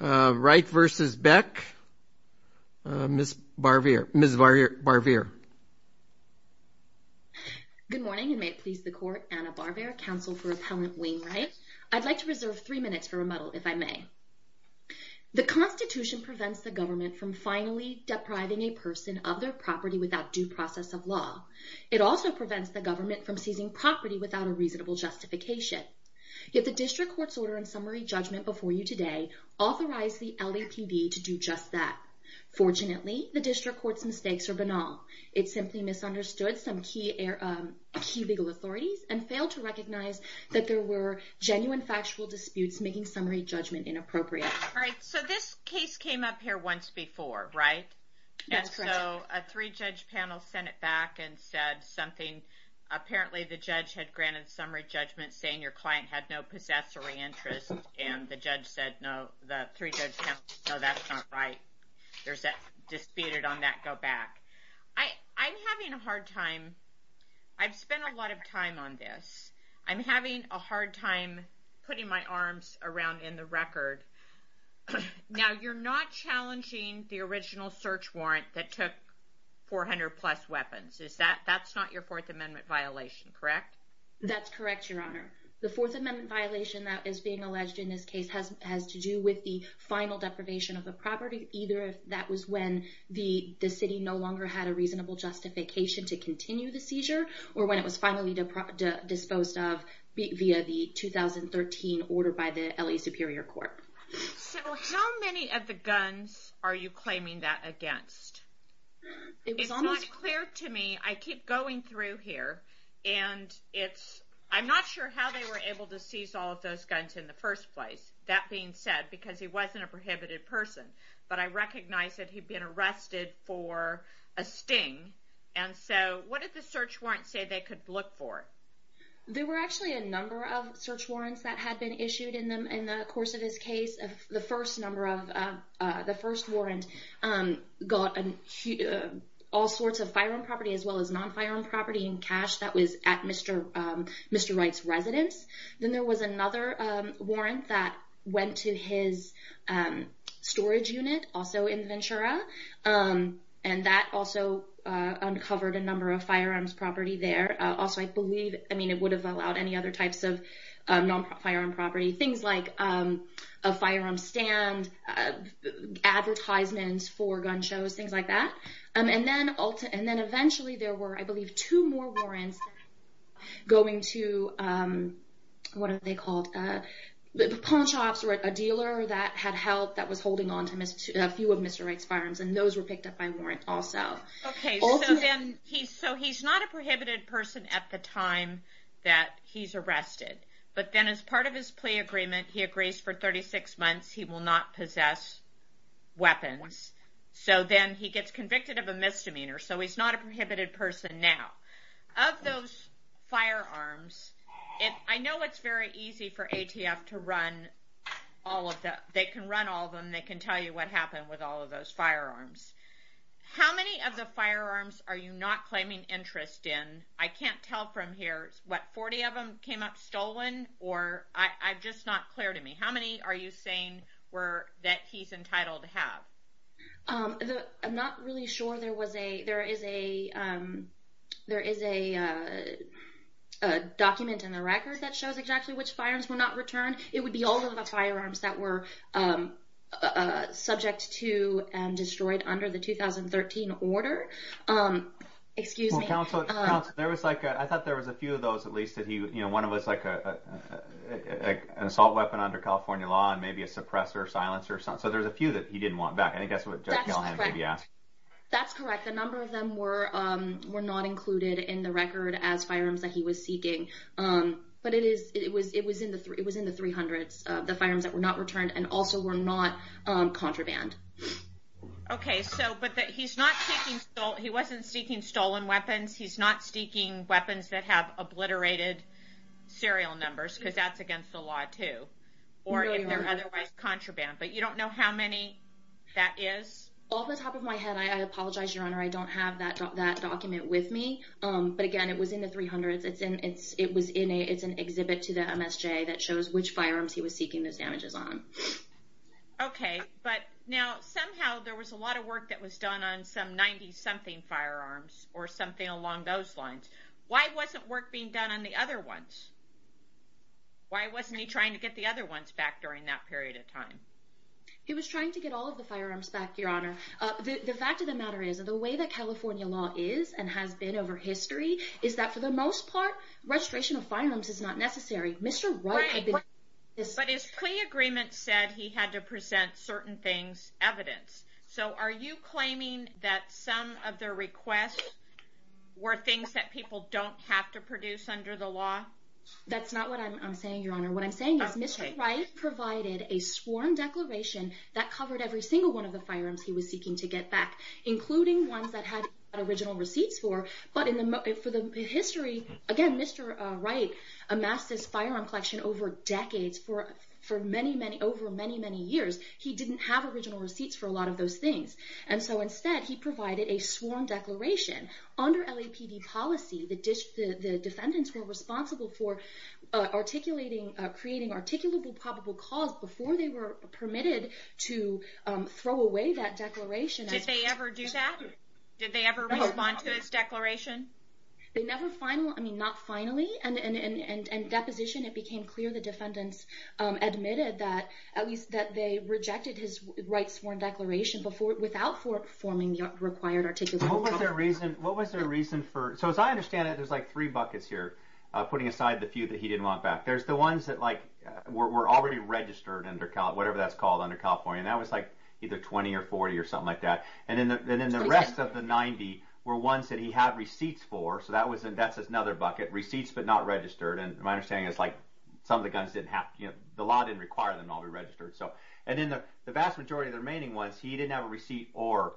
Wright v. Beck, Ms. Barvere. Good morning, and may it please the Court, Anna Barvere, counsel for Appellant Wayne Wright. I'd like to reserve three minutes for rebuttal, if I may. The Constitution prevents the government from finally depriving a person of their property without due process of law. It also prevents the government from seizing property without a reasonable justification. Yet the District Court's order and summary judgment before you today authorized the LAPD to do just that. Fortunately, the District Court's mistakes are banal. It simply misunderstood some key legal authorities and failed to recognize that there were genuine factual disputes making summary judgment inappropriate. All right, so this case came up here once before, right? That's correct. And so a three-judge panel sent it back and said something. Apparently the judge had granted summary judgment saying your client had no possessory interest, and the three-judge panel said, no, that's not right. There's a disputed on that go-back. I'm having a hard time. I've spent a lot of time on this. I'm having a hard time putting my arms around in the record. Now, you're not challenging the original search warrant that took 400-plus weapons. That's not your Fourth Amendment violation, correct? That's correct, Your Honor. The Fourth Amendment violation that is being alleged in this case has to do with the final deprivation of the property, either that was when the city no longer had a reasonable justification to continue the seizure, or when it was finally disposed of via the 2013 order by the LA Superior Court. So how many of the guns are you claiming that against? It's not clear to me. I keep going through here, and I'm not sure how they were able to seize all of those guns in the first place. That being said, because he wasn't a prohibited person, but I recognize that he'd been arrested for a sting, and so what did the search warrant say they could look for? There were actually a number of search warrants that had been issued in the course of his case. The first warrant got all sorts of firearm property, as well as non-firearm property and cash that was at Mr. Wright's residence. Then there was another warrant that went to his storage unit, also in Ventura, and that also uncovered a number of firearms property there. Also, I believe, I mean, it would have allowed any other types of firearm property, things like a firearm stand, advertisements for gun shows, things like that. And then eventually, there were, I believe, two more warrants going to, what are they called? The pawn shops, or a dealer that had help that was holding onto a few of Mr. Wright's firearms, and those were picked up by warrant also. Okay, so then he's not a prohibited person at the time that he's arrested, but then as part of his plea agreement, he agrees for 36 months he will not possess weapons. So then he gets convicted of a misdemeanor, so he's not a prohibited person now. Of those firearms, I know it's very easy for ATF to run all of the, they can run all of them, they can tell you what happened with all of those firearms. How many of the firearms are you not or I'm just not clear to me. How many are you saying that he's entitled to have? I'm not really sure. There is a document in the record that shows exactly which firearms were not returned. It would be all of the firearms that were subject to and destroyed under the 2013 order. Excuse me. There was like, I thought there was a few of those at least that he, one of us like an assault weapon under California law and maybe a suppressor silencer. So there's a few that he didn't want back. I think that's what Jeff Callahan maybe asked. That's correct. The number of them were not included in the record as firearms that he was seeking. But it was in the 300s, the firearms that were not returned and also were not contraband. Okay. So, but that he's not seeking, he wasn't seeking stolen weapons. He's not seeking weapons that have obliterated serial numbers because that's against the law too, or if they're otherwise contraband. But you don't know how many that is? Off the top of my head, I apologize, Your Honor. I don't have that document with me. But again, it was in the 300s. It's in, it's, it was in a, it's an exhibit to the MSJ that somehow there was a lot of work that was done on some 90 something firearms or something along those lines. Why wasn't work being done on the other ones? Why wasn't he trying to get the other ones back during that period of time? He was trying to get all of the firearms back, Your Honor. The fact of the matter is that the way that California law is and has been over history is that for the most part, restoration of firearms is not necessary. Mr. Wright had been- But his plea agreement said he had to present certain things, evidence. So are you claiming that some of their requests were things that people don't have to produce under the law? That's not what I'm saying, Your Honor. What I'm saying is Mr. Wright provided a sworn declaration that covered every single one of the firearms he was seeking to get back, including ones that had original receipts for. But in the, for the history, again, Mr. Wright amassed his firearm collection over decades, for many, many, over many, many years. He didn't have original receipts for a lot of those things. And so instead, he provided a sworn declaration. Under LAPD policy, the defendants were responsible for articulating, creating articulable probable cause before they were permitted to throw away that declaration. Did they ever do that? Did they ever respond to his declaration? They never final, I mean, not finally. And in deposition, it became clear the defendants admitted that, at least that they rejected his Wright's sworn declaration before, without forming the required articulable- What was their reason, what was their reason for, so as I understand it, there's like three buckets here, putting aside the few that he didn't want back. There's the ones that like were already registered under whatever that's called under California. And that was like either 20 or 40 or something like that. And then the rest of the 90 were ones that he had receipts for. So that was, that's another bucket, receipts, but not registered. And my understanding is like some of the guns didn't have, the law didn't require them to all be registered. So, and then the vast majority of the remaining ones, he didn't have a receipt or,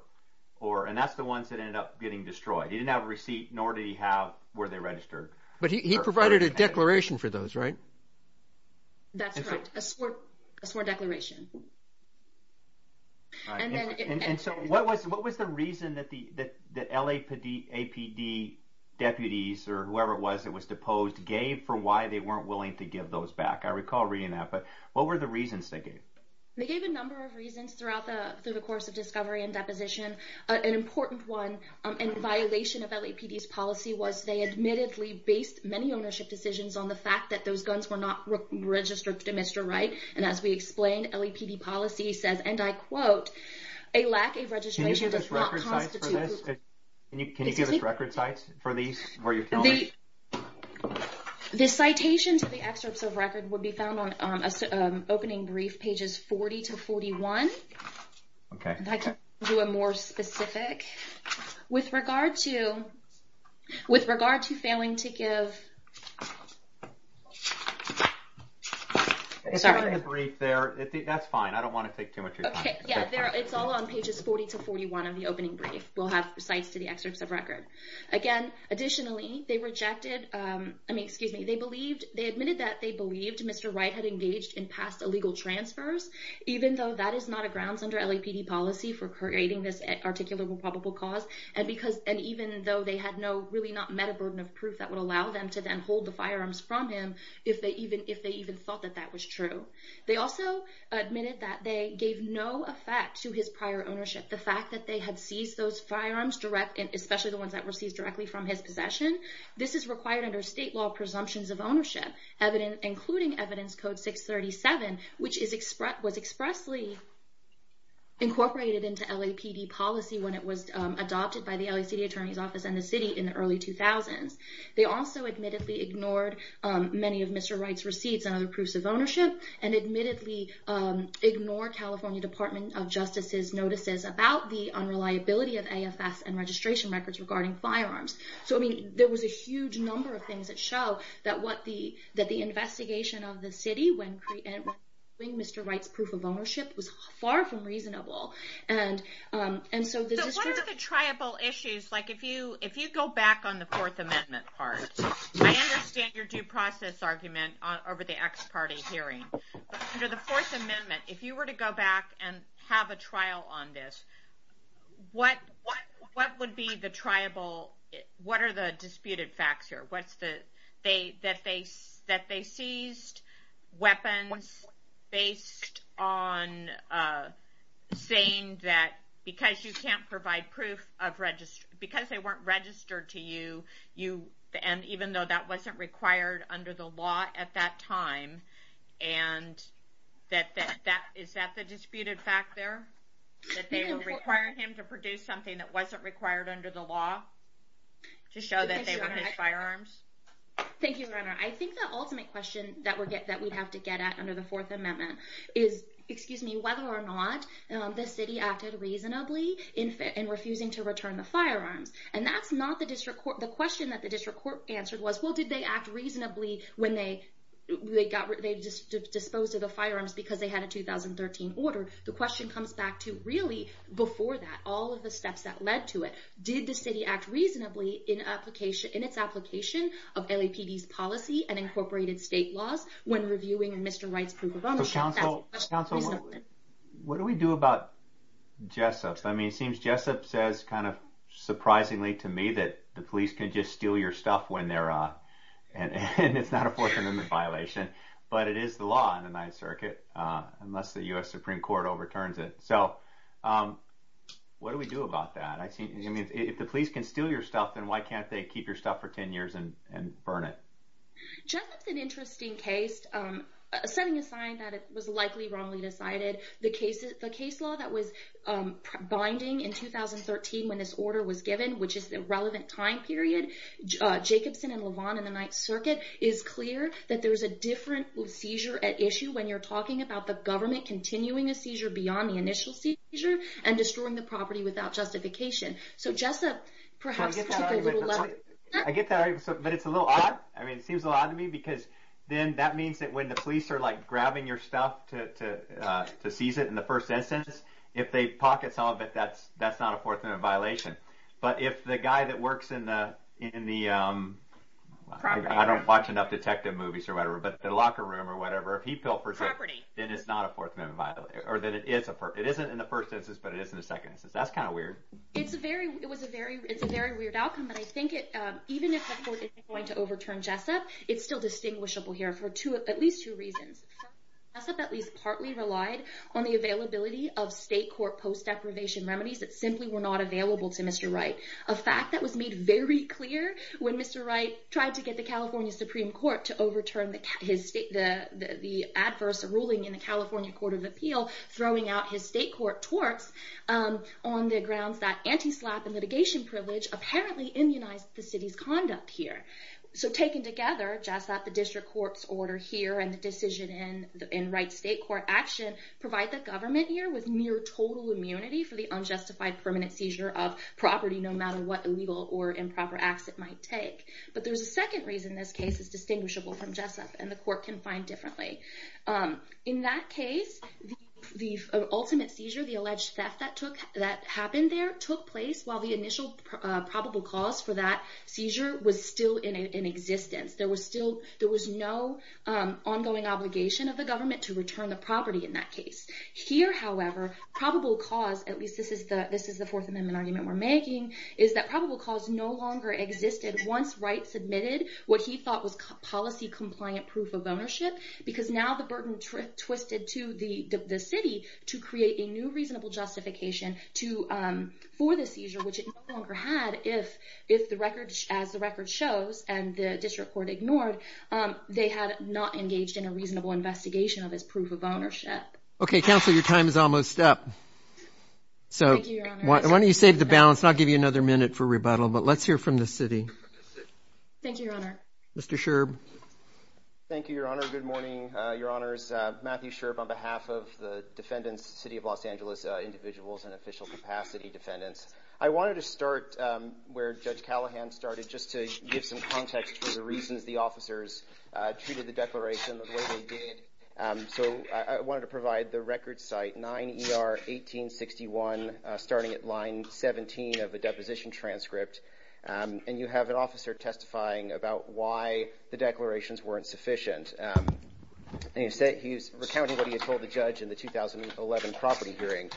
and that's the ones that ended up getting destroyed. He didn't have a receipt, nor did he have, were they registered? But he provided a declaration for those, right? That's right, a sworn declaration. And so what was the reason that the LAPD deputies or whoever it was that was deposed gave for why they weren't willing to give those back? I recall reading that, but what were the reasons they gave? They gave a number of reasons throughout the, through the course of discovery and deposition. An important one in violation of LAPD's policy was they admittedly based many ownership decisions on the fact that those guns were not registered to Mr. Wright. And as we explained, LAPD policy says, and I quote, a lack of registration does not constitute- Can you give us record sites for this? Can you give us record sites for these, where you're filming? The citation to the excerpts of record would be found on opening brief pages 40 to 41. Okay. If I can do a more specific. With regard to, with regard to failing to give... Sorry. The brief there, that's fine. I don't want to take too much of your time. Yeah, it's all on pages 40 to 41 of the opening brief. We'll have sites to the excerpts of record. Again, additionally, they rejected, I mean, excuse me. They believed, they admitted that they believed Mr. Wright had engaged in past illegal transfers, even though that is not a grounds under LAPD policy for creating this articulable probable cause. And because, and even though they had no, really not met a burden of proof that would allow them to then withhold the firearms from him, if they even thought that that was true. They also admitted that they gave no effect to his prior ownership. The fact that they had seized those firearms direct, and especially the ones that were seized directly from his possession. This is required under state law presumptions of ownership, including evidence code 637, which was expressly incorporated into LAPD policy when it was adopted by the LA City Council. They admittedly ignored many of Mr. Wright's receipts and other proofs of ownership, and admittedly ignored California Department of Justice's notices about the unreliability of AFS and registration records regarding firearms. So, I mean, there was a huge number of things that show that what the, that the investigation of the city when creating Mr. Wright's proof of ownership was far from reasonable. And, and so the district- If you go back on the Fourth Amendment part, I understand your due process argument over the ex-party hearing. But under the Fourth Amendment, if you were to go back and have a trial on this, what would be the triable, what are the disputed facts here? What's the, they, that they, that they seized weapons based on saying that because you can't provide proof of register, because they weren't registered to you, you, and even though that wasn't required under the law at that time, and that, that, that, is that the disputed fact there? That they were requiring him to produce something that wasn't required under the law to show that they were his firearms? Thank you, Your Honor. I think the ultimate question that we're getting, that we'd have to get at under the Fourth Amendment is, excuse me, whether or not the city acted reasonably in refusing to return the firearms. And that's not the district court, the question that the district court answered was, well, did they act reasonably when they, they got, they disposed of the firearms because they had a 2013 order? The question comes back to really before that, all of the steps that led to it, did the city act reasonably in application, in its application of LAPD's policy and incorporated state laws when reviewing Mr. Wright's proof of ownership? So counsel, counsel, what do we do about Jessup? I mean, it seems Jessup says kind of surprisingly to me that the police can just steal your stuff when they're, and it's not a Fourth Amendment violation, but it is the law in the Ninth Circuit, unless the U.S. Supreme Court overturns it. So what do we do about that? I mean, if the police can steal your stuff, then why can't they keep your stuff for 10 years and burn it? Jessup's an interesting case, setting a sign that it was likely wrongly decided. The case, the case law that was binding in 2013 when this order was given, which is the relevant time period, Jacobson and Levon in the Ninth Circuit is clear that there's a different seizure at issue when you're talking about the government continuing a seizure beyond the initial seizure and destroying the property without justification. So Jessup perhaps took a little- I get that, but it's a little odd. I mean, it seems a little odd to me because then that means that when the police are like grabbing your stuff to seize it in the first instance, if they pocket some of it, that's not a Fourth Amendment violation. But if the guy that works in the, I don't watch enough detective movies or whatever, but the locker room or whatever, if he pilfers it- Property. It isn't in the first instance, but it is in the second instance. That's kind of weird. It's a very weird outcome, but I think even if the court isn't going to overturn Jessup, it's still distinguishable here for at least two reasons. Jessup at least partly relied on the availability of state court post deprivation remedies that simply were not available to Mr. Wright. A fact that was made very clear when Mr. Wright tried to get the California Court of Appeal throwing out his state court torts on the grounds that anti-SLAPP and litigation privilege apparently immunized the city's conduct here. So taken together, Jessup, the district court's order here and the decision in Wright's state court action provide the government here with near total immunity for the unjustified permanent seizure of property no matter what illegal or improper acts it might take. But there's a second reason this case is distinguishable from Jessup, and the court can find differently. In that case, the ultimate seizure, the alleged theft that happened there took place while the initial probable cause for that seizure was still in existence. There was no ongoing obligation of the government to return the property in that case. Here, however, probable cause, at least this is the Fourth Amendment argument we're making, is that probable cause no longer existed once Wright submitted what he thought was policy-compliant proof of ownership, because now the burden twisted to the city to create a new reasonable justification for the seizure, which it no longer had if, as the record shows and the district court ignored, they had not engaged in a reasonable investigation of his proof of ownership. Okay, counsel, your time is almost up. So why don't you save the balance, and I'll give you another minute for rebuttal. But let's hear from the city. Thank you, Your Honor. Mr. Sherb. Thank you, Your Honor. Good morning, Your Honors. Matthew Sherb on behalf of the defendants, City of Los Angeles individuals and official capacity defendants. I wanted to start where Judge Callahan started just to give some context for the reasons the officers treated the declaration the way they did. So I wanted to provide the record site, 9 ER 1861, starting at line 17 of the deposition transcript. And you have an officer testifying about why the declarations weren't sufficient. He's recounting what he had told the judge in the 2011 property hearing,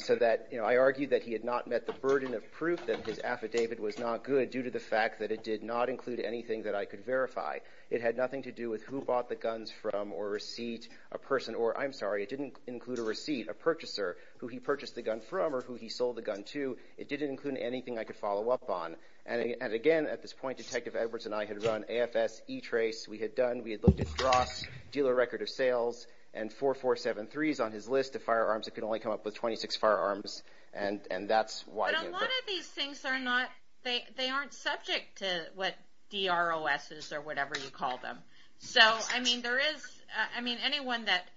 so that, you know, I argued that he had not met the burden of proof that his affidavit was not good due to the fact that it did not include anything that I could verify. It had nothing to do with who bought the guns from or receipt a person or, I'm sorry, it didn't include a receipt, a purchaser, who he purchased the gun from or who he sold the gun to. It didn't include anything I could verify. And again, at this point, Detective Edwards and I had run AFS, E-Trace, we had done, we had looked at Dross, dealer record of sales, and 4473s on his list of firearms. It could only come up with 26 firearms. And that's why- But a lot of these things are not, they aren't subject to what D-R-O-S is or whatever you call them. So, I mean, there is, I mean, anyone that,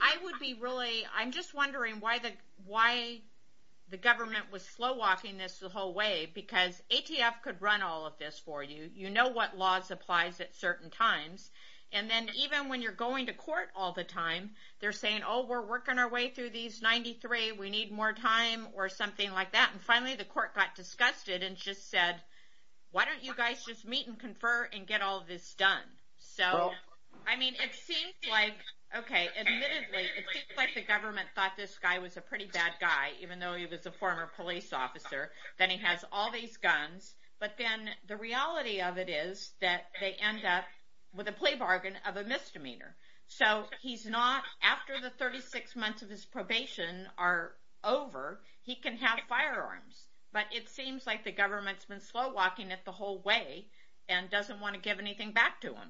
I would be really, I'm just wondering why the government was slow walking this the whole way, because ATF could run all of this for you. You know what laws applies at certain times. And then even when you're going to court all the time, they're saying, oh, we're working our way through these 93, we need more time or something like that. And finally, the court got disgusted and just said, why don't you guys just meet and confer and get all of this done? So, I mean, it seems like, okay, admittedly, it seems like the government thought this guy was a pretty bad guy, even though he was a former police officer, that he has all these guns. But then the reality of it is that they end up with a plea bargain of a misdemeanor. So he's not, after the 36 months of his probation are over, he can have firearms. But it seems like the government's been slow walking it the whole way and doesn't want to give anything back to him.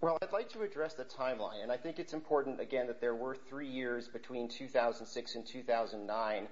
Well, I'd like to address the timeline. And I think it's important, again, that there were three years between 2006 and 2009,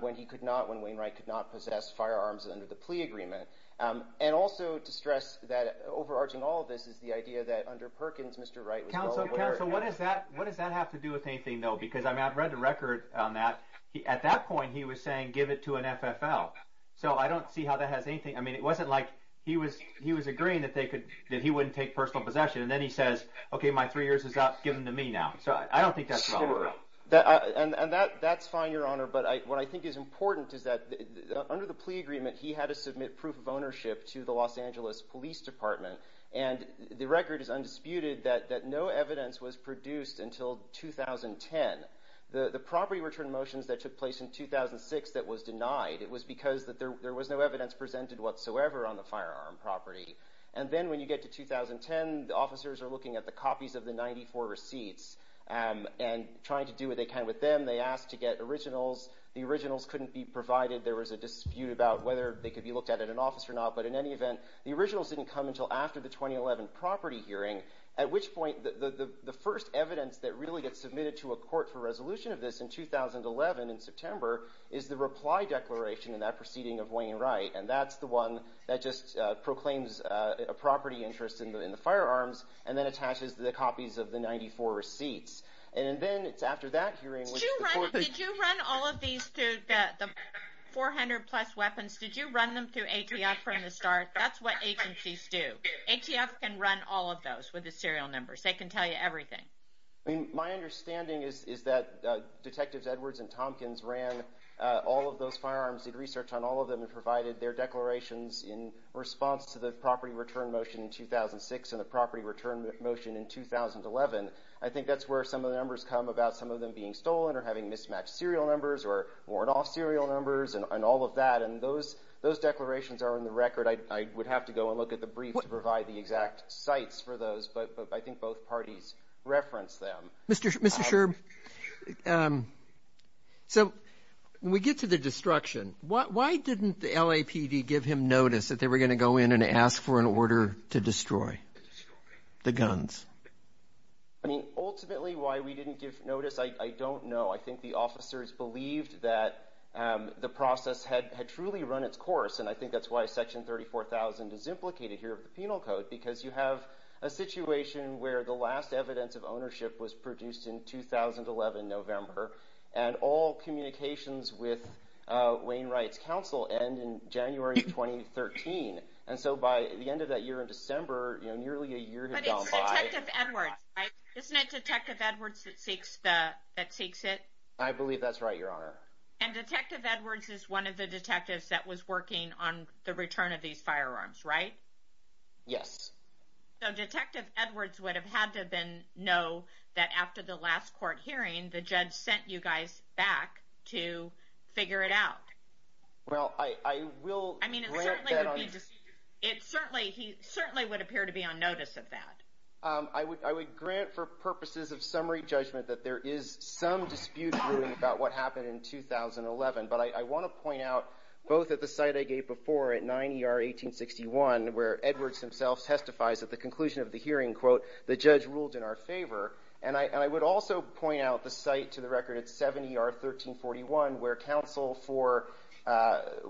when he could not, when Wayne Wright could not possess firearms under the plea agreement. And also to stress that, overarching all of this is the idea that under Perkins, Mr. Wright was well aware- Council, what does that have to do with anything, though? Because I mean, I've read the record on that. At that point, he was saying, give it to an FFL. So I don't see how that has anything. I mean, it wasn't like he was agreeing that they could, that he wouldn't take personal possession. And then he says, okay, my three years is up, give them to me now. So I don't think that's wrong. And that's fine, Your Honor. But what I think is important is that under the plea agreement, he had to submit proof of ownership to the Los Angeles Police Department. And the record is undisputed that no evidence was produced until 2010. The property return motions that took place in 2006 that was denied, it was because that there was no evidence presented whatsoever on the firearm property. And then when you get to 2010, the officers are looking at the copies of the 94 receipts and trying to do what they can with them. They asked to get originals. The originals couldn't be provided. There was a dispute about whether they could be looked at at an office or not. But in any event, the originals didn't come until after the 2011 property hearing, at which point the first evidence that really gets submitted to a court for resolution of this in 2011 in September is the reply declaration in that proceeding of Wayne Wright. And that's the one that just proclaims a property interest in the firearms and then copies of the 94 receipts. And then it's after that hearing when the court... Did you run all of these to the 400 plus weapons? Did you run them through ATF from the start? That's what agencies do. ATF can run all of those with the serial numbers. They can tell you everything. My understanding is that Detectives Edwards and Tompkins ran all of those firearms, did research on all of them and provided their declarations in response to the property return motion in 2006 and the property return motion in 2011. I think that's where some of the numbers come about some of them being stolen or having mismatched serial numbers or weren't all serial numbers and all of that. And those declarations are in the record. I would have to go and look at the brief to provide the exact sites for those. But I think both parties referenced them. Mr. Sherb, so when we get to the destruction, why didn't the LAPD give him notice that they were going to go in and ask for an order to destroy the guns? I mean, ultimately, why we didn't give notice, I don't know. I think the officers believed that the process had truly run its course. And I think that's why Section 34,000 is implicated here of the Penal Code, because you have a situation where the last evidence of ownership was produced in 2011, November, and all communications with Wayne Rights Council end in January of 2013. And so by the end of that year in December, nearly a year had gone by- But it's Detective Edwards, right? Isn't it Detective Edwards that seeks it? I believe that's right, Your Honor. And Detective Edwards is one of the detectives that was working on the return of these firearms, right? Yes. So Detective Edwards would have had to then that after the last court hearing, the judge sent you guys back to figure it out. Well, I will grant that- I mean, it certainly would be just- It certainly would appear to be on notice of that. I would grant for purposes of summary judgment that there is some dispute brewing about what happened in 2011. But I want to point out, both at the site I gave before at 9 ER 1861, where Edwards himself testifies at the conclusion of the hearing, quote, the judge ruled in our favor. And I would also point out the site to the record at 7 ER 1341, where counsel for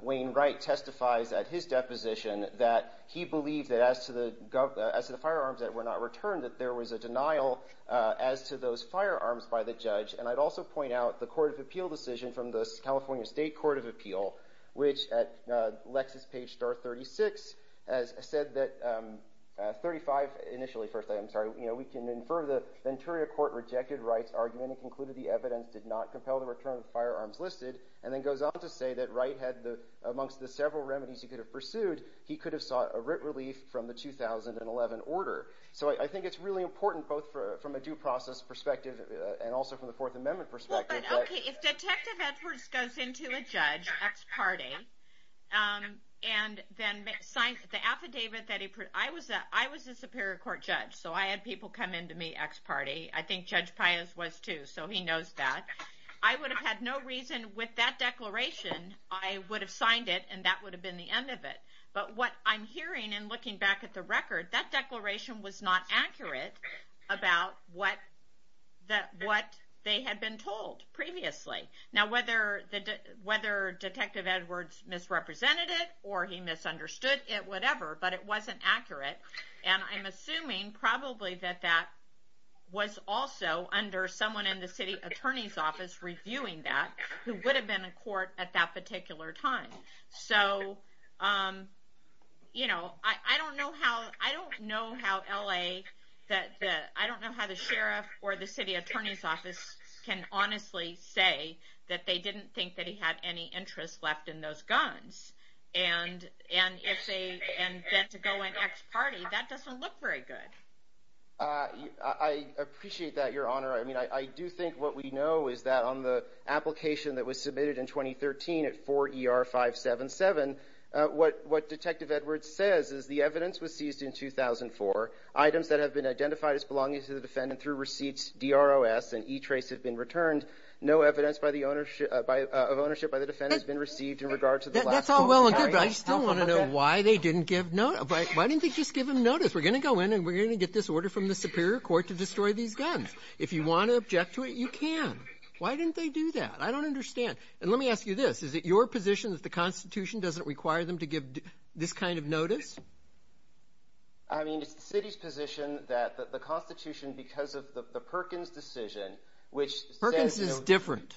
Wayne Wright testifies at his deposition that he believed that as to the firearms that were not returned, that there was a denial as to those firearms by the judge. And I'd also point out the Court of Appeal decision from the California State Court of Appeal, which at Lexis page star 36, has said that 35, initially, first, I'm sorry, we can infer the Venturia Court rejected Wright's argument and concluded the evidence did not compel the return of firearms listed. And then goes on to say that Wright had the, amongst the several remedies he could have pursued, he could have sought a writ relief from the 2011 order. So I think it's really important, both from a due process perspective and also from the Fourth Amendment perspective- Okay, if Detective Edwards goes into a judge, X party, and then signs the affidavit that he, I was a Superior Court judge, so I had people come into me, X party. I think Judge Pius was too, so he knows that. I would have had no reason with that declaration, I would have signed it, and that would have been the end of it. But what I'm hearing and looking back at the record, that declaration was not accurate about what they had been told previously. Now, whether Detective Edwards misrepresented it or he misunderstood it, whatever, but it wasn't accurate. And I'm assuming probably that that was also under someone in the city attorney's office reviewing that, who would have been in court at that particular time. So I don't know how LA, I don't know how the sheriff or the city attorney's office can honestly say that they didn't think that he had any interest left in those guns. And then to go in X party, that doesn't look very good. I appreciate that, Your Honor. I do think what we know is that on the application that was filed in 2005-7-7, what Detective Edwards says is the evidence was seized in 2004. Items that have been identified as belonging to the defendant through receipts, DROS, and E-trace have been returned. No evidence of ownership by the defendant has been received in regard to the last- That's all well and good, but I still want to know why they didn't give notice. Why didn't they just give him notice? We're going to go in and we're going to get this order from the Superior Court to destroy these guns. If you want to object to it, you can. Why didn't they do that? I don't understand. And let me ask you this. Is it your position that the Constitution doesn't require them to give this kind of notice? I mean, it's the city's position that the Constitution, because of the Perkins decision, which says- Perkins is different.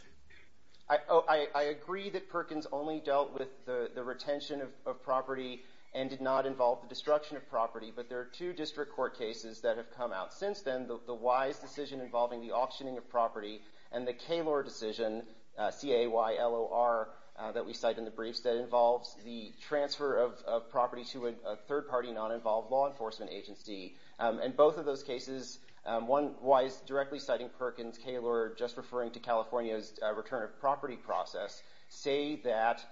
I agree that Perkins only dealt with the retention of property and did not involve the destruction of property, but there are two district court cases that have come out since then. The Wise decision involving the auctioning of property and the Kaylor decision, C-A-Y-L-O-R, that we cite in the briefs that involves the transfer of property to a third-party non-involved law enforcement agency. In both of those cases, Wise directly citing Perkins, Kaylor just referring to California's return of property process, say that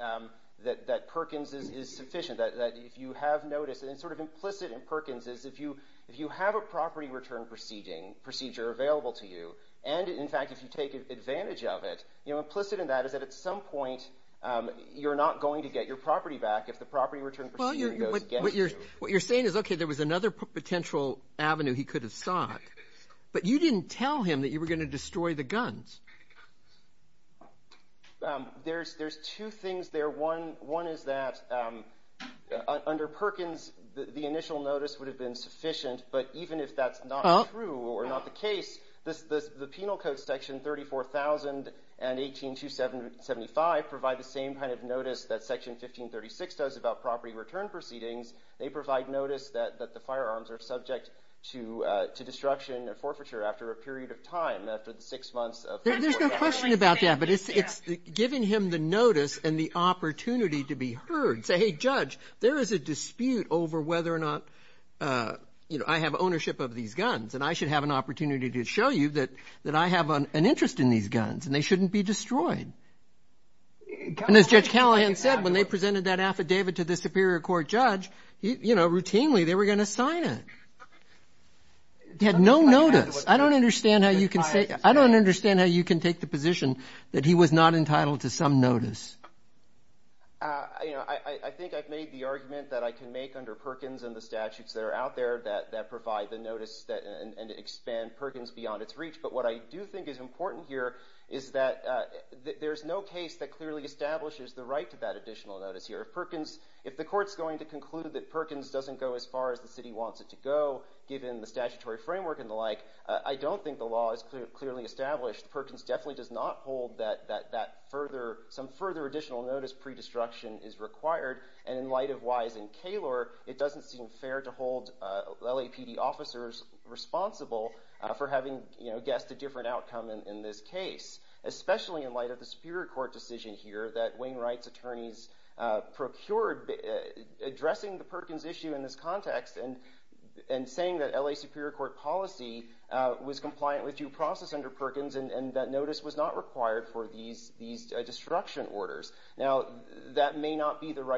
Perkins is sufficient, that if you have notice, and it's sort of implicit in Perkins, is if you have a property return procedure available to you and, in fact, if you take advantage of it, implicit in that is that at some point, you're not going to get your property back if the property return procedure goes against you. What you're saying is, okay, there was another potential avenue he could have sought, but you didn't tell him that you were going to destroy the guns. There's two things there. One is that under Perkins, the initial notice would have been the Penal Code Section 34,000 and 18275 provide the same kind of notice that Section 1536 does about property return proceedings. They provide notice that the firearms are subject to destruction and forfeiture after a period of time, after the six months of forfeiture. There's no question about that, but it's giving him the notice and the opportunity to be heard. Say, hey, Judge, there is a dispute over whether or not I have ownership of these guns, and I should have an opportunity to show you that I have an interest in these guns, and they shouldn't be destroyed. And as Judge Callahan said, when they presented that affidavit to the Superior Court judge, routinely, they were going to sign it. He had no notice. I don't understand how you can take the position that he was not entitled to some notice. I think I've made the argument that I can make under Perkins and the statutes that are out there that provide the notice and expand Perkins beyond its reach. But what I do think is important here is that there's no case that clearly establishes the right to that additional notice here. If the court's going to conclude that Perkins doesn't go as far as the city wants it to go, given the statutory framework and the like, I don't think the law is clearly established. Perkins definitely does not hold that some further additional notice pre-destruction is required. And in light of Wise and Kalor, it doesn't seem fair to hold LAPD officers responsible for having guessed a different outcome in this case, especially in light of the Superior Court decision here that Wainwright's attorneys procured addressing the Perkins issue in this context and saying that LA Superior Court policy was compliant with due process under Perkins and that notice was not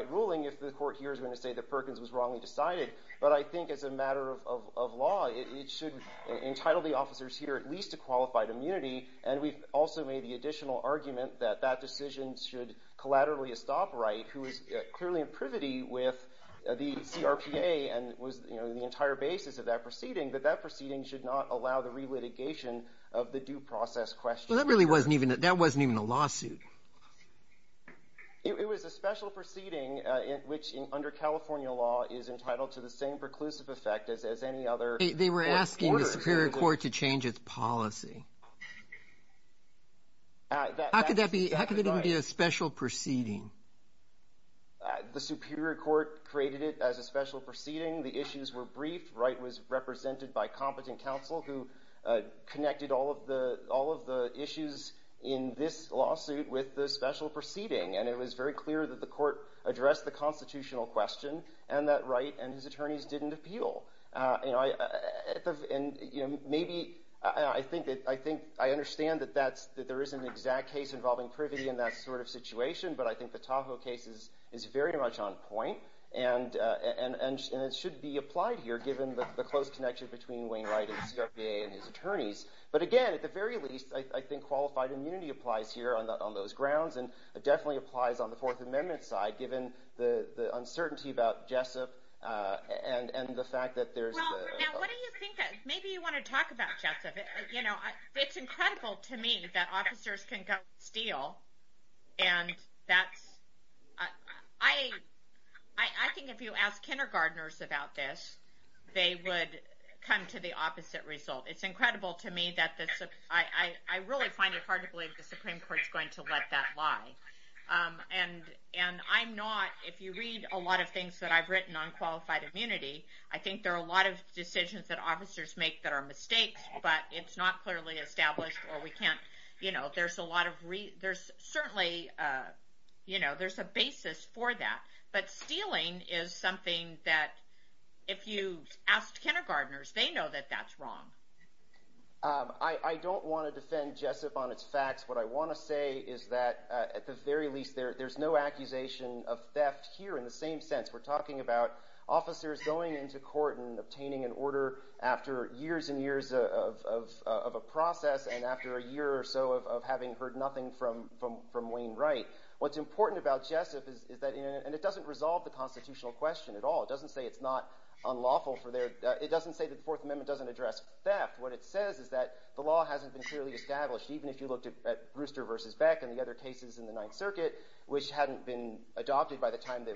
ruling if the court here is going to say that Perkins was wrongly decided. But I think as a matter of law, it should entitle the officers here at least to qualified immunity. And we've also made the additional argument that that decision should collaterally estop Wright, who is clearly in privity with the CRPA and was the entire basis of that proceeding, but that proceeding should not allow the re-litigation of the due process question. Well, that really wasn't even a lawsuit. It was a special proceeding, which under California law is entitled to the same preclusive effect as any other court order. They were asking the Superior Court to change its policy. How could that even be a special proceeding? The Superior Court created it as a special proceeding. The issues were briefed. Wright was represented by competent counsel who connected all of the issues in this lawsuit, with the special proceeding. And it was very clear that the court addressed the constitutional question and that Wright and his attorneys didn't appeal. I understand that there isn't an exact case involving privity in that sort of situation, but I think the Tahoe case is very much on point and it should be applied here given the close connection between Wayne Wright and CRPA and his attorneys. But again, at the very least, I think qualified immunity applies here on those grounds and definitely applies on the Fourth Amendment side, given the uncertainty about Jessup and the fact that there's... Well, now what do you think? Maybe you want to talk about Jessup. It's incredible to me that officers can go and steal. I think if you ask kindergarteners about this, they would come to the opposite result. It's incredible to me that the... I really find it hard to let that lie. And I'm not... If you read a lot of things that I've written on qualified immunity, I think there are a lot of decisions that officers make that are mistakes, but it's not clearly established or we can't... There's a lot of... There's certainly... There's a basis for that. But stealing is something that if you ask kindergarteners, they know that that's wrong. I don't want to defend Jessup on its facts. What I want to say is that at the very least, there's no accusation of theft here in the same sense. We're talking about officers going into court and obtaining an order after years and years of a process and after a year or so of having heard nothing from Wayne Wright. What's important about Jessup is that... And it doesn't resolve the constitutional question at all. It doesn't say it's not unlawful for their... It doesn't say the Fourth Amendment doesn't address theft. What it says is that the law hasn't been clearly established, even if you looked at Brewster versus Beck and the other cases in the Ninth Circuit, which hadn't been adopted by the time that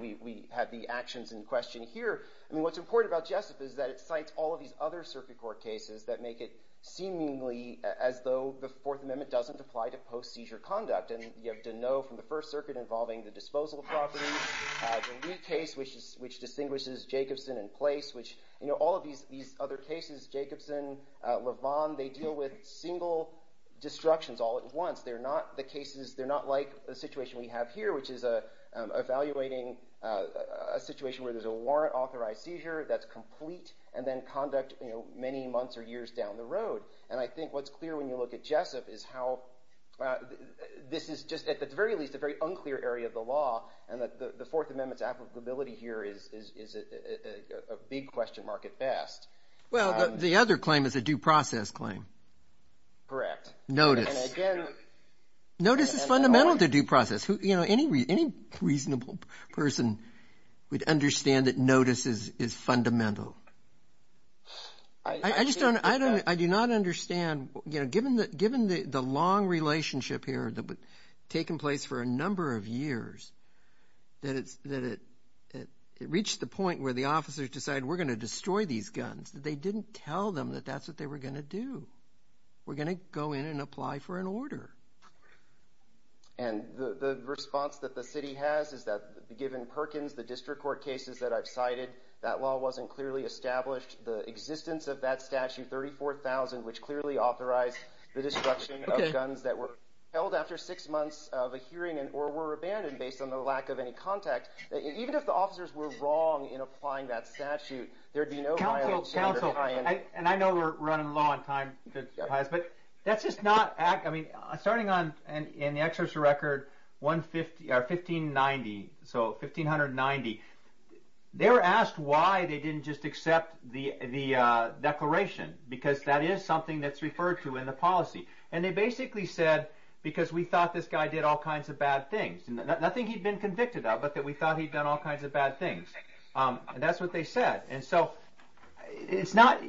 we had the actions in question here. I mean, what's important about Jessup is that it cites all of these other circuit court cases that make it seemingly as though the Fourth Amendment doesn't apply to post-seizure conduct. And you have to know from the First Circuit involving the disposal of all of these other cases, Jacobson, Levon, they deal with single destructions all at once. They're not like the situation we have here, which is evaluating a situation where there's a warrant-authorized seizure that's complete and then conduct many months or years down the road. And I think what's clear when you look at Jessup is how this is just, at the very least, a very unclear area of the law and that the Fourth Amendment's applicability here is a big question mark at best. Well, the other claim is a due process claim. Correct. Notice. Notice is fundamental to due process. Any reasonable person would understand that notice is fundamental. I do not understand, given the long relationship here taking place for a number of years, that it reached the point where the officers decided we're going to destroy these guns. They didn't tell them that that's what they were going to do. We're going to go in and apply for an order. And the response that the city has is that given Perkins, the district court cases that I've cited, that law wasn't clearly established. The existence of that statute, 34,000, which clearly authorized the destruction of guns that held after six months of a hearing or were abandoned based on the lack of any contact, even if the officers were wrong in applying that statute, there'd be no violation. And I know we're running low on time, but that's just not... I mean, starting in the exertion record, 1590, so 1590, they were asked why they didn't just accept the declaration, because that is something that's referred to in the policy. And they basically said, because we thought this guy did all kinds of bad things. Nothing he'd been convicted of, but that we thought he'd done all kinds of bad things. And that's what they said. And so it's not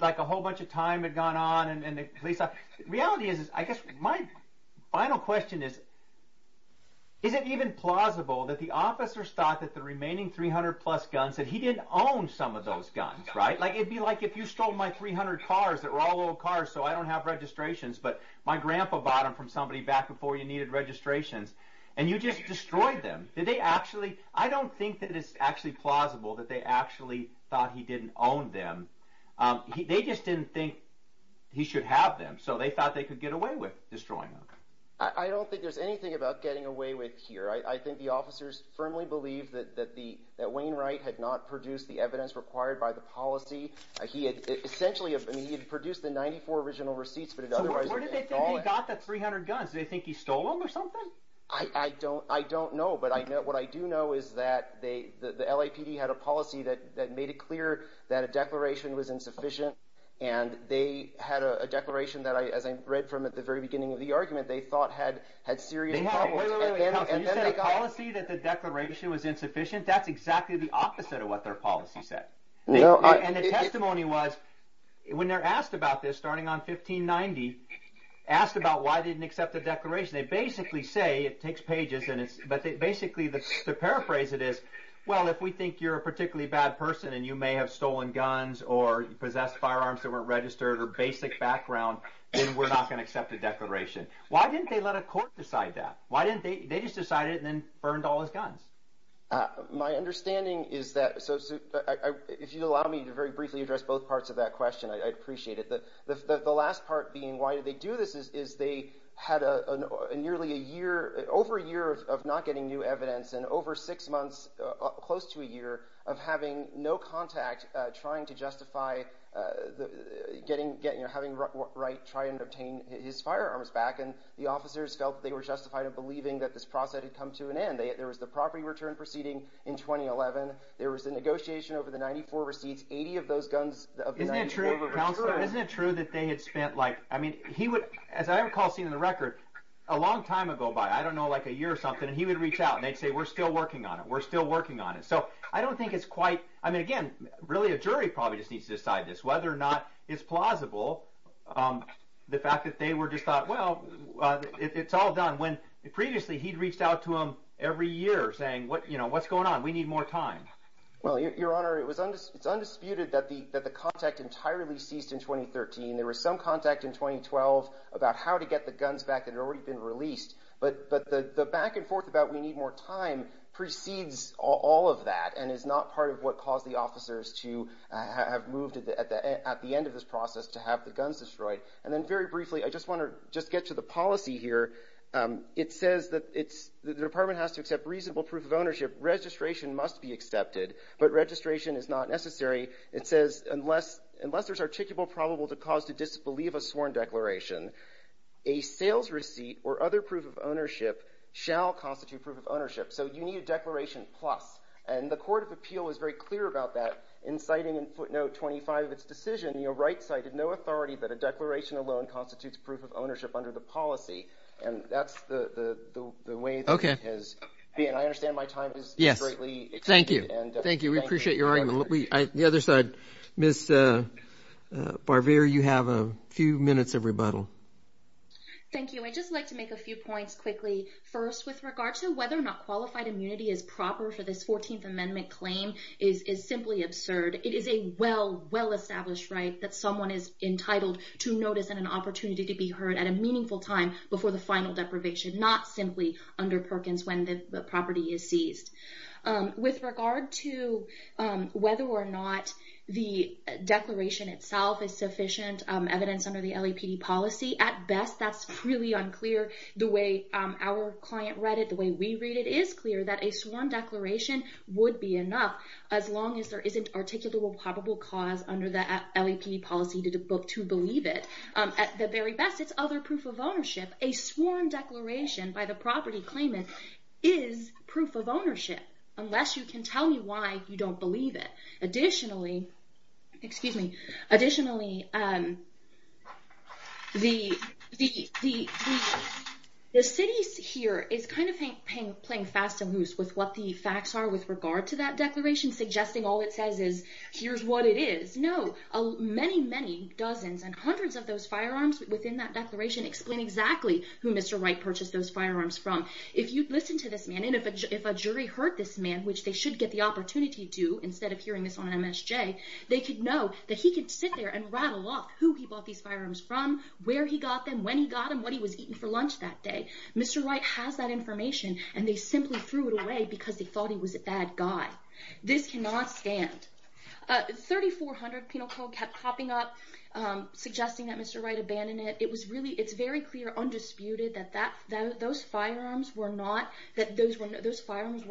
like a whole bunch of time had gone on and the police... The reality is, I guess my final question is, is it even plausible that the officers thought that the remaining 300-plus guns, that he didn't own some of those cars that were all old cars, so I don't have registrations, but my grandpa bought them from somebody back before you needed registrations, and you just destroyed them? Did they actually... I don't think that it's actually plausible that they actually thought he didn't own them. They just didn't think he should have them, so they thought they could get away with destroying them. I don't think there's anything about getting away with here. I think the officers firmly believe that Wayne Wright had not produced the evidence required by the policy. He had produced the 94 original receipts, but otherwise... So where did they think he got the 300 guns? Did they think he stole them or something? I don't know, but what I do know is that the LAPD had a policy that made it clear that a declaration was insufficient, and they had a declaration that, as I read from at the very beginning of the argument, they thought had serious problems. Wait, wait, wait. You said a policy that the declaration was insufficient? That's exactly the opposite of what their policy said, and the testimony was, when they're asked about this, starting on 1590, asked about why they didn't accept the declaration. They basically say, it takes pages, but basically to paraphrase it is, well, if we think you're a particularly bad person and you may have stolen guns or possessed firearms that weren't registered or basic background, then we're not going to accept a declaration. Why didn't they let a court decide that? They just decided and then burned all his guns. My understanding is that... So if you'd allow me to very briefly address both parts of that question, I'd appreciate it. The last part being why did they do this is they had a nearly a year, over a year of not getting new evidence and over six months, close to a year of having no contact, trying to justify having Wright try and believing that this process had come to an end. There was the property return proceeding in 2011. There was a negotiation over the 94 receipts, 80 of those guns. Isn't it true that they had spent like, I mean, he would, as I recall seeing in the record, a long time ago by, I don't know, like a year or something, and he would reach out and they'd say, we're still working on it. We're still working on it. So I don't think it's quite, I mean, again, really a jury probably just needs to decide this, whether or not it's plausible. The fact that they were just thought, well, it's all done when previously he'd reached out to him every year saying, what's going on? We need more time. Well, your honor, it's undisputed that the contact entirely ceased in 2013. There was some contact in 2012 about how to get the guns back that had already been released. But the back and forth about we need more time precedes all of that and is not part of what caused the officers to have moved at the end of this process to have the guns destroyed. And then very briefly, I just want to just get to the policy here. It says that it's, the department has to accept reasonable proof of ownership. Registration must be accepted, but registration is not necessary. It says, unless there's articulable probable cause to disbelieve a sworn declaration, a sales receipt or other proof of ownership shall constitute proof of ownership. So you need a declaration plus. And the court of appeal is very clear about that. In citing in footnote 25 of its decision, your right side had no authority that a declaration alone constitutes proof of ownership under the policy. And that's the way it has been. I understand my time is greatly extended. Thank you. Thank you. We appreciate your argument. The other side, Ms. Barvere, you have a few minutes of rebuttal. Thank you. I'd just like to make a few points quickly. First, with regard to whether or not qualified immunity is proper for this 14th Amendment claim is simply absurd. It is a well, well-established right that someone is entitled to notice and an opportunity to be heard at a meaningful time before the final deprivation, not simply under Perkins when the property is seized. With regard to whether or not the declaration itself is sufficient evidence under the LAPD policy, at best, that's really unclear. The way our client read it, the way we read it, is clear that a sworn declaration would be enough as long as there isn't articulable probable cause under the LAPD policy to believe it. At the very best, it's other proof of ownership. A sworn declaration by the property claimant is proof of ownership unless you can tell me why you don't believe it. Additionally, the city here is kind of playing fast and goose with what the facts are with regard to that declaration, suggesting all it says is, here's what it is. No, many, many dozens and hundreds of those firearms within that declaration explain exactly who Mr. Wright purchased those firearms from. If you'd listen to this man and if a jury heard this man, which they should get the MSJ, they could know that he could sit there and rattle off who he bought these firearms from, where he got them, when he got them, what he was eating for lunch that day. Mr. Wright has that information and they simply threw it away because they thought he was a bad guy. This cannot stand. 3,400 penal code kept popping up suggesting that Mr. Wright abandoned it. It was really, it's very clear, undisputed that those firearms were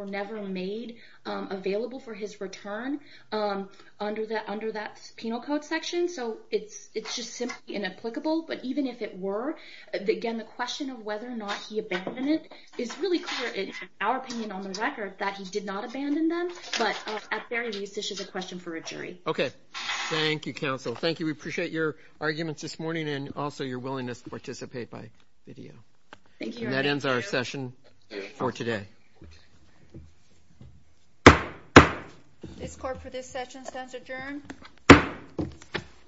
never made available for his return. Under that penal code section. So it's just simply inapplicable. But even if it were, again, the question of whether or not he abandoned it is really clear in our opinion on the record that he did not abandon them. But at the very least, this is a question for a jury. OK. Thank you, counsel. Thank you. We appreciate your arguments this morning and also your willingness to participate by video. Thank you. That ends our session for today. This court for this session stands adjourned.